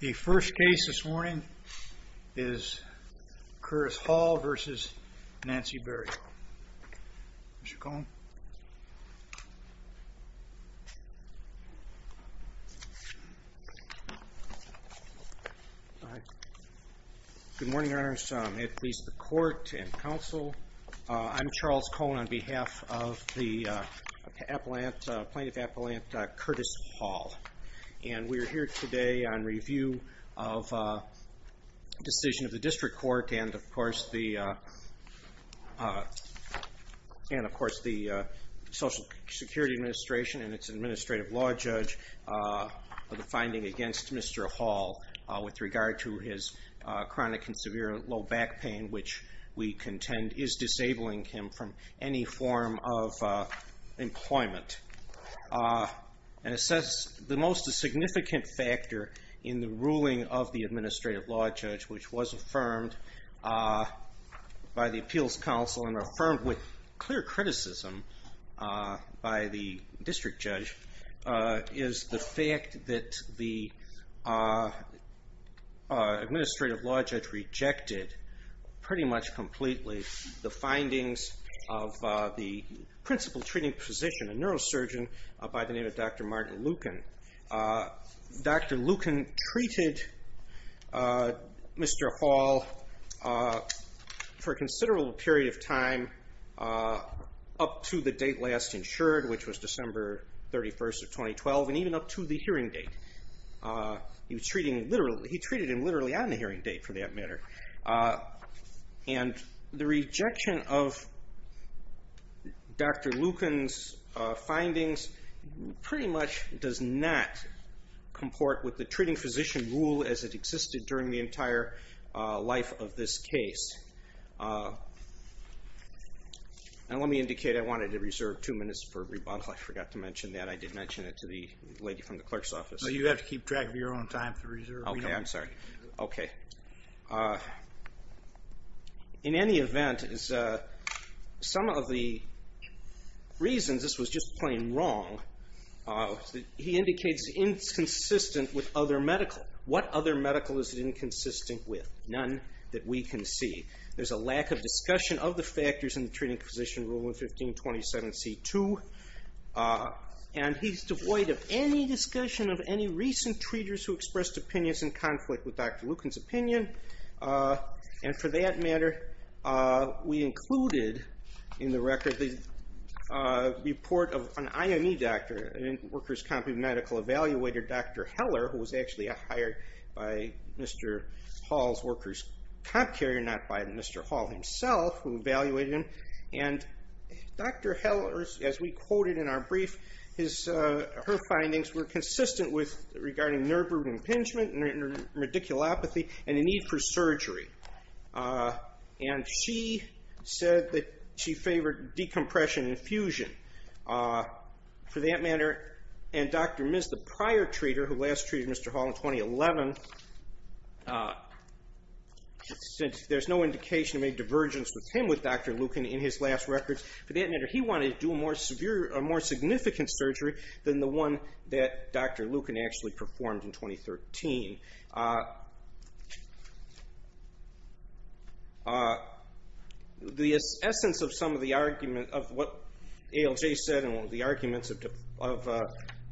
The first case this morning is Curtis Hall v. Nancy Berryhill. Mr. Cohen. Good morning, Your Honors. May it please the Court and Counsel, I'm Charles Cohen on behalf of the District Court, and we're here today on review of a decision of the District Court and, of course, the Social Security Administration and its administrative law judge for the finding against Mr. Hall with regard to his chronic and severe low back pain, which we contend is disabling him from any form of significant factor in the ruling of the administrative law judge, which was affirmed by the Appeals Counsel and affirmed with clear criticism by the District Judge, is the fact that the administrative law judge rejected pretty much completely the findings of the principal treating physician, a neurosurgeon by the time Dr. Lucan treated Mr. Hall for a considerable period of time up to the date last insured, which was December 31st of 2012, and even up to the hearing date. He treated him literally on the hearing date, for that treating physician rule as it existed during the entire life of this case. And let me indicate I wanted to reserve two minutes for rebuttal. I forgot to mention that. I did mention it to the lady from the clerk's office. No, you have to keep track of your own time to reserve. Oh yeah, I'm sorry. Okay. In any event, some of the reasons this was just plain wrong, he indicates is inconsistent with other medical. What other medical is it inconsistent with? None that we can see. There's a lack of discussion of the factors in the treating physician rule in 1527C2, and he's devoid of any discussion of any recent treaters who expressed opinions in conflict with Dr. Lucan's opinion, and for that he evaluated Dr. Heller, who was actually hired by Mr. Hall's workers' comp carrier, not by Mr. Hall himself, who evaluated him. And Dr. Heller, as we quoted in our brief, her findings were consistent with regarding nerve root impingement, radiculopathy, and the need for surgery. And she said that she favored decompression and infusion. For that matter, and Dr. Miz, the prior treater who last treated Mr. Hall in 2011, since there's no indication of any divergence with him with Dr. Lucan in his last records, for that matter, he wanted to do a more significant surgery than the one that Dr. Lucan actually performed in 2013. The essence of some of the argument of what ALJ said and the arguments of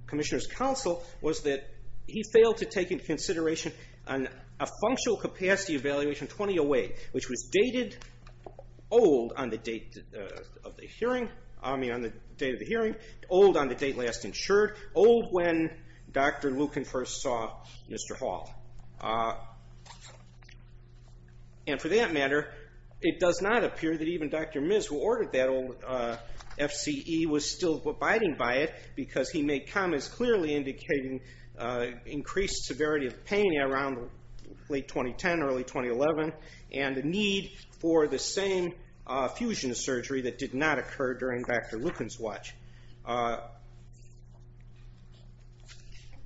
Commissioner's counsel was that he failed to take into consideration a functional capacity evaluation 2008, which was dated old on the date of the hearing, I mean on the date of the hearing, old on the date last insured, old when Dr. Lucan first saw Mr. Hall. And for that matter, it does not appear that even Dr. Miz, who ordered that old FCE, was still abiding by it because he made comments clearly indicating increased severity of pain around late 2010, early 2011, and the need for the same fusion surgery that did not occur during Dr. Lucan's watch.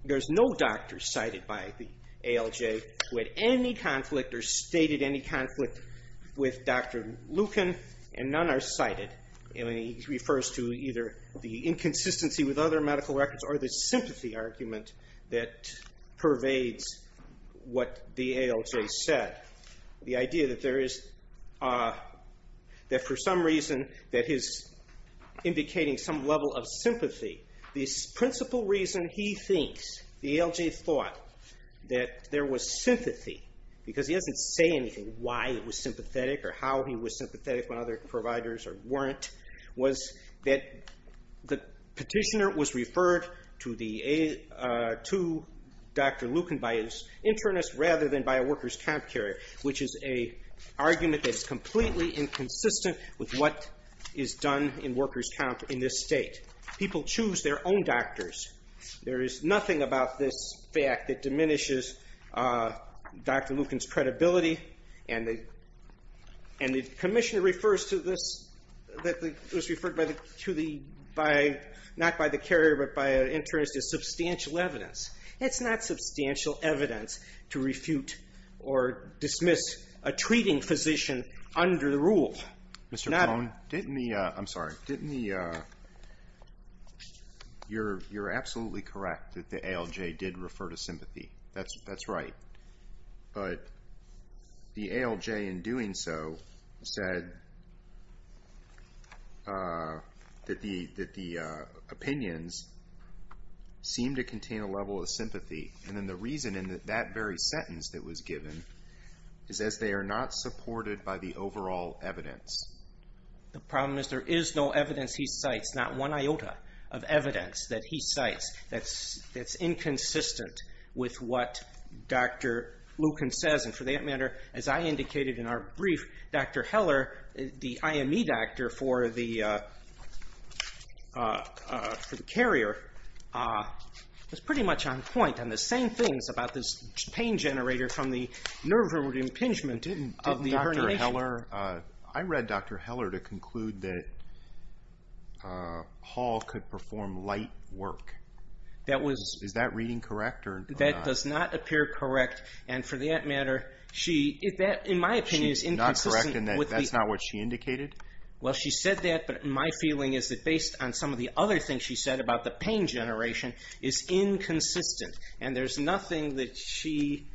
There's no doctor cited by the ALJ who had any conflict or stated any conflict with Dr. Lucan and none are cited. And he refers to either the inconsistency with other medical records or the sympathy argument that pervades what the ALJ said. The idea that for some reason that his indicating some level of sympathy, the principal reason he thinks the ALJ thought that there was sympathy because he doesn't say anything why he was sympathetic or how he was sympathetic when other providers weren't, was that the petitioner was referred to Dr. Lucan by his internist rather than by a workers' comp carrier, which is an argument that is completely inconsistent with what is done in workers' comp in this state. People choose their own doctors. There is nothing about this fact that diminishes Dr. Lucan's credibility and the commissioner refers to this that was referred to not by the carrier but by an internist as substantial evidence. It's not substantial evidence to refute or dismiss a treating physician under the rule. Mr. Cohn, didn't the, I'm sorry, didn't the, you're absolutely correct that the ALJ did refer to sympathy. That's right. But the ALJ in doing so said that the opinions seem to contain a level of sympathy. And then the reason in that very sentence that was given is as they are not supported by the overall evidence. The problem is there is no evidence he cites, not one iota of evidence that he cites that's inconsistent with what Dr. Lucan says. And for that matter, as I indicated in our brief, Dr. Heller, the IME doctor for the carrier, was pretty much on point on the same things about this pain generator from the nerve impingement of the herniation. Didn't Dr. Heller, I read Dr. Heller to conclude that Hall could perform light work. Is that reading correct or not? It does not appear correct. And for that matter, she, in my opinion, is inconsistent. She's not correct in that that's not what she indicated? Well, she said that, but my feeling is that based on some of the other things she said about the pain generation is inconsistent. And there's nothing that she,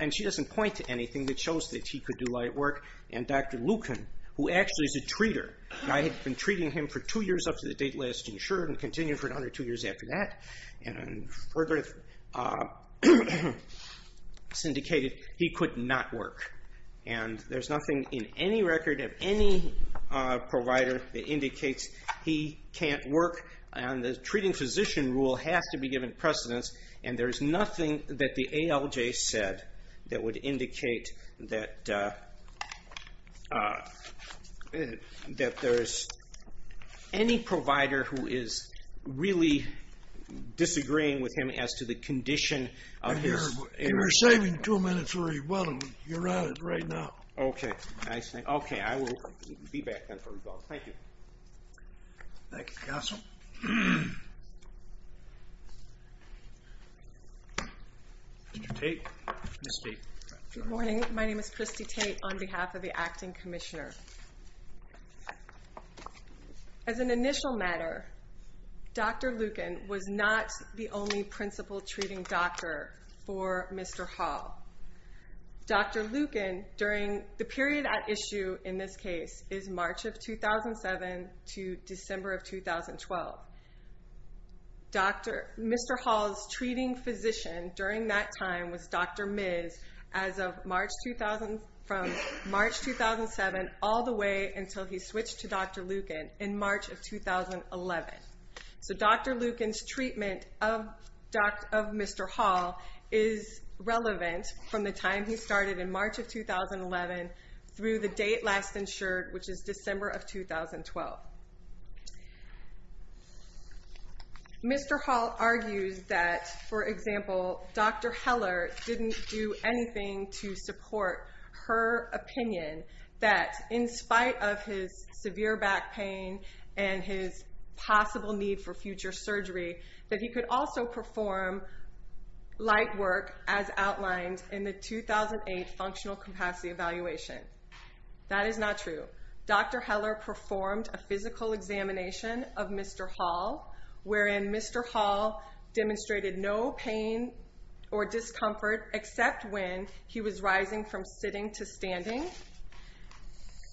and she doesn't point to anything that shows that he could do light work. And Dr. Lucan, who actually is a treater, I had been treating him for two years up to the date last insured and continued for another two years after that and further syndicated he could not work. And there's nothing in any record of any provider that indicates he can't work. And the treating physician rule has to be given precedence. And there's nothing that the ALJ said that would indicate that there's any provider who is really disagreeing with him as to the condition of his... We're saving two minutes for Rebellin. You're on it right now. Okay. I will be back then for Rebellin. Thank you. Thank you, Counsel. Mr. Tate, Ms. Tate. Good morning. My name is Christy Tate on behalf of the Acting Commissioner. As an initial matter, Dr. Lucan was not the only principal treating doctor for Mr. Hall. Dr. Lucan during the period at issue in this case is March of 2007 to December of 2012. Mr. Hall's treating physician during that time was Dr. Miz as of March 2007 all the way until he switched to Dr. Lucan in March of 2011. So Dr. Lucan's treatment of Mr. Hall is relevant from the time he started in March of 2011 through the date last insured, which is December of 2012. Mr. Hall argues that, for example, Dr. Heller didn't do anything to support her opinion that in spite of his severe back pain and his possible need for future surgery, that he could also perform light work as outlined in the 2008 Functional Capacity Evaluation. That is not true. Dr. Heller performed a physical examination of Mr. Hall, wherein Mr. Hall demonstrated no pain or discomfort except when he was rising from sitting to standing.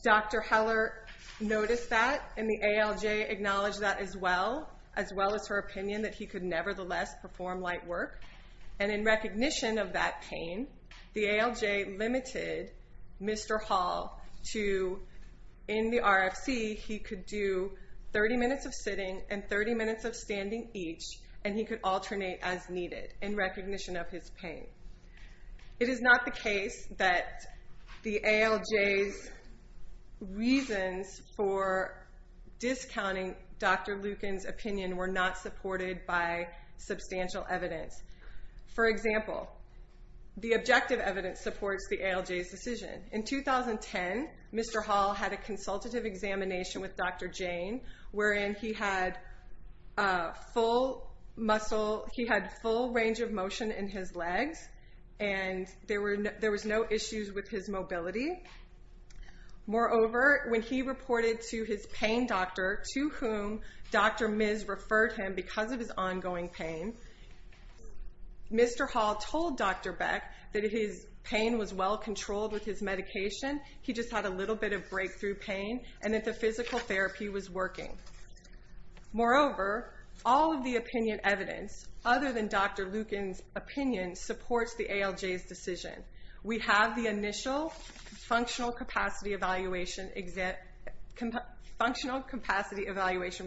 Dr. Heller noticed that and the ALJ acknowledged that as well, as well as her opinion that he could nevertheless perform light work. And in recognition of that pain, the ALJ limited Mr. Hall to, in the RFC, he could do 30 minutes of sitting and 30 minutes of standing each, and he could alternate as needed in recognition of his pain. It is not the case that the ALJ's reasons for discounting Dr. Lucan's opinion were not supported by substantial evidence. For example, the objective evidence supports the ALJ's decision. In 2010, Mr. Hall had a consultative examination with Dr. Jane, wherein he had full range of motion in his legs and there was no issues with his mobility. Moreover, when he reported to his pain doctor, to whom Dr. Miz referred him because of his ongoing pain, Mr. Hall told Dr. Beck that his pain was well-controlled with his medication. He just had a little bit of breakthrough pain and that the physical therapy was working. Moreover, all of the opinion evidence, other than Dr. Lucan's opinion, supports the ALJ's decision. We have the initial Functional Capacity Evaluation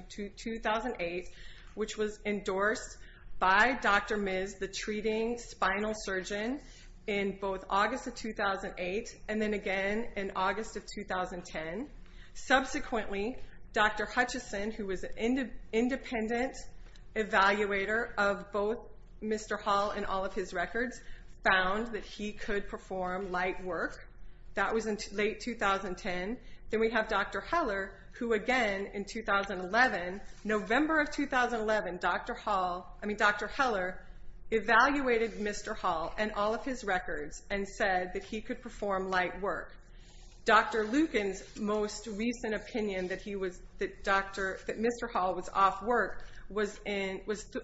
2008, which was endorsed by Dr. Miz, the treating spinal surgeon, in both August of 2008 and then again in August of 2010. Subsequently, Dr. Hutchison, who was an independent evaluator of both Mr. Hall and all of his records, found that he could perform light work. That was in late 2010. Then we have Dr. Heller, who again in 2011, November of 2011, Dr. Heller evaluated Mr. Hall and all of his records and said that he could perform light work. Dr. Lucan's most recent opinion that Mr. Hall was off work was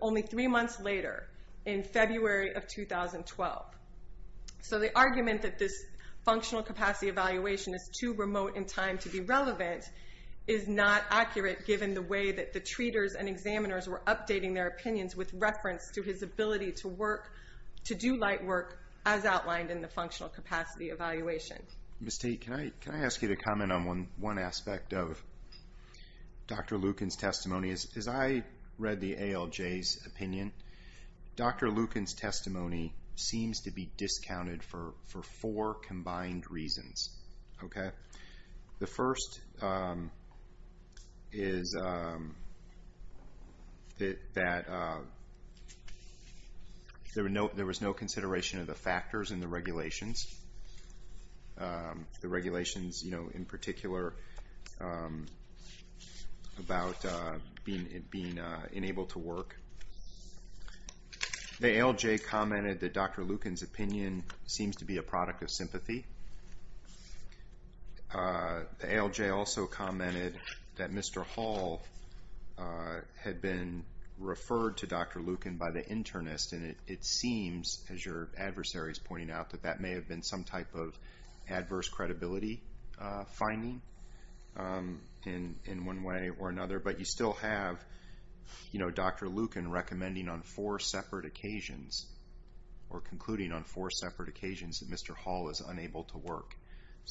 only three months later, in February of 2012. The argument that this Functional Capacity Evaluation is too remote in time to be relevant is not accurate, given the way that the treaters and examiners were updating their opinions with reference to his ability to do light work, as outlined in the Functional Capacity Evaluation. Can I ask you to comment on one aspect of Dr. Lucan's testimony? As I read the ALJ's opinion, Dr. Lucan's testimony seems to be discounted for four combined reasons. The first is that there was no consideration of the factors in the regulations, the regulations in particular about being unable to work. The ALJ commented that Dr. Lucan's opinion seems to be a product of sympathy. The ALJ also commented that Mr. Hall had been referred to Dr. Lucan by the internist. It seems, as your adversary is pointing out, that that may have been some type of adverse credibility finding in one way or another. But you still have Dr. Lucan concluding on four separate occasions that Mr. Hall is unable to work.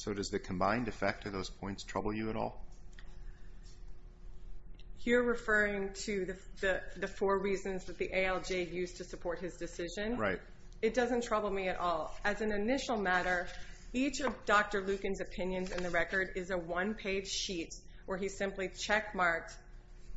Does the combined effect of those points trouble you at all? You're referring to the four reasons that the ALJ used to support his decision? Right. It doesn't trouble me at all. As an initial matter, each of Dr. Lucan's opinions in the record is a one-page sheet where he simply checkmarked.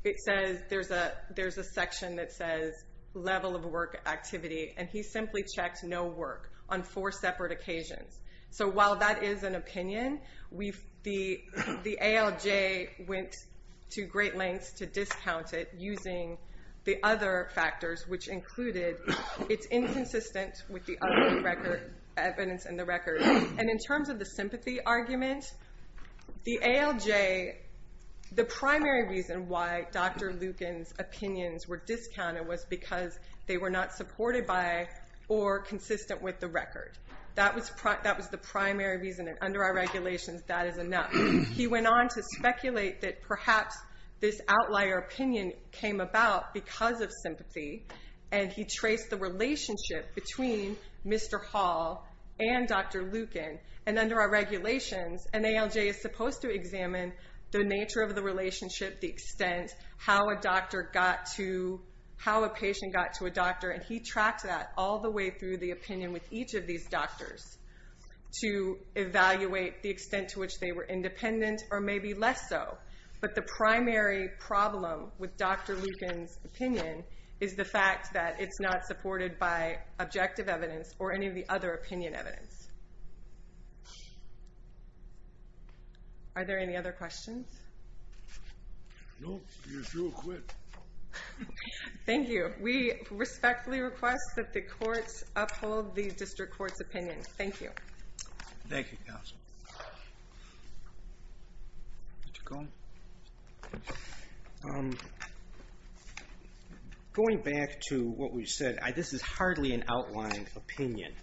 It says there's a section that says level of work activity, and he simply checked no work on four separate occasions. So while that is an opinion, the ALJ went to great lengths to discount it using the other factors, which included it's inconsistent with the other evidence in the record. And in terms of the sympathy argument, the ALJ, the primary reason why Dr. Lucan's opinions were discounted was because they were not supported by or consistent with the record. That was the primary reason, and under our regulations, that is enough. He went on to speculate that perhaps this outlier opinion came about because of sympathy, and he traced the relationship between Mr. Hall and Dr. Lucan. And under our regulations, an ALJ is supposed to examine the nature of the relationship, the extent, how a patient got to a doctor. And he tracked that all the way through the opinion with each of these doctors to evaluate the extent to which they were independent, or maybe less so. But the primary problem with Dr. Lucan's opinion is the fact that it's not supported by objective evidence or any of the other opinion evidence. Are there any other questions? No. You're through. Quit. Thank you. We respectfully request that the courts uphold the district court's opinion. Thank you. Thank you, counsel. Going back to what we said, this is hardly an outlined opinion.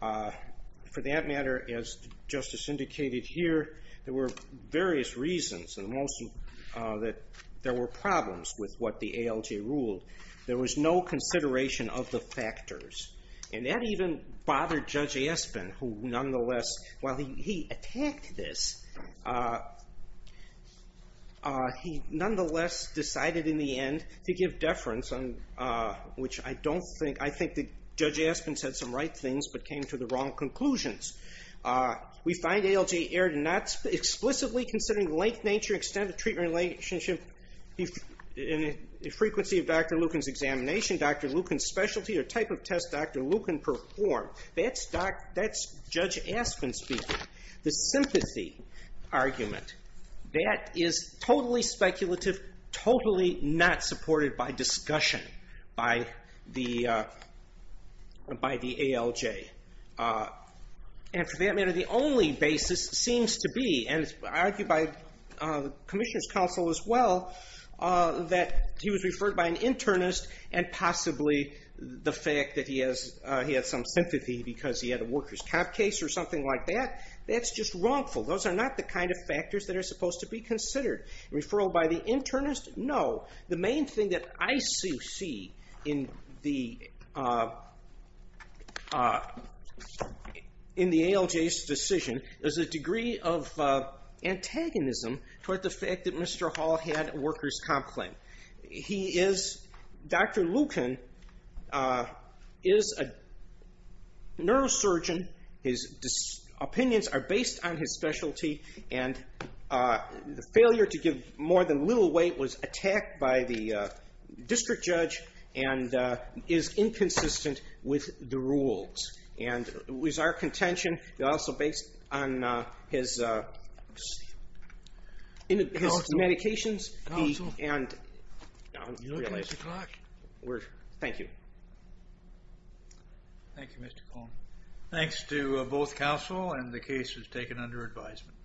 For that matter, as Justice indicated here, there were various reasons that there were problems with what the ALJ ruled. There was no consideration of the factors. And that even bothered Judge Aspin, who nonetheless, while he attacked this, he nonetheless decided in the end to give deference, which I don't think, I think that Judge Aspin said some right things but came to the wrong conclusions. We find ALJ erred in not explicitly considering the length, nature, extent of the treatment relationship, the frequency of Dr. Lucan's examination, Dr. Lucan's specialty, or type of test Dr. Lucan performed. That's Judge Aspin speaking. The sympathy argument, that is totally speculative, totally not supported by discussion by the ALJ. And for that matter, the only basis seems to be, and it's argued by the Commissioner's Counsel as well, that he was referred by an internist and possibly the fact that he has some sympathy because he had a worker's comp case or something like that, that's just wrongful. Those are not the kind of factors that are supposed to be considered. Referral by the internist? No. The main thing that I see in the ALJ's decision is a degree of antagonism toward the fact that Mr. Hall had a worker's comp claim. He is, Dr. Lucan is a neurosurgeon. His opinions are based on his specialty and the failure to give more than little weight was attacked by the district judge and is inconsistent with the rules. It was our contention, also based on his medications. Counsel, you're looking at the clock. Thank you. Thank you, Mr. Cohn. Thanks to both counsel and the case is taken under advisement.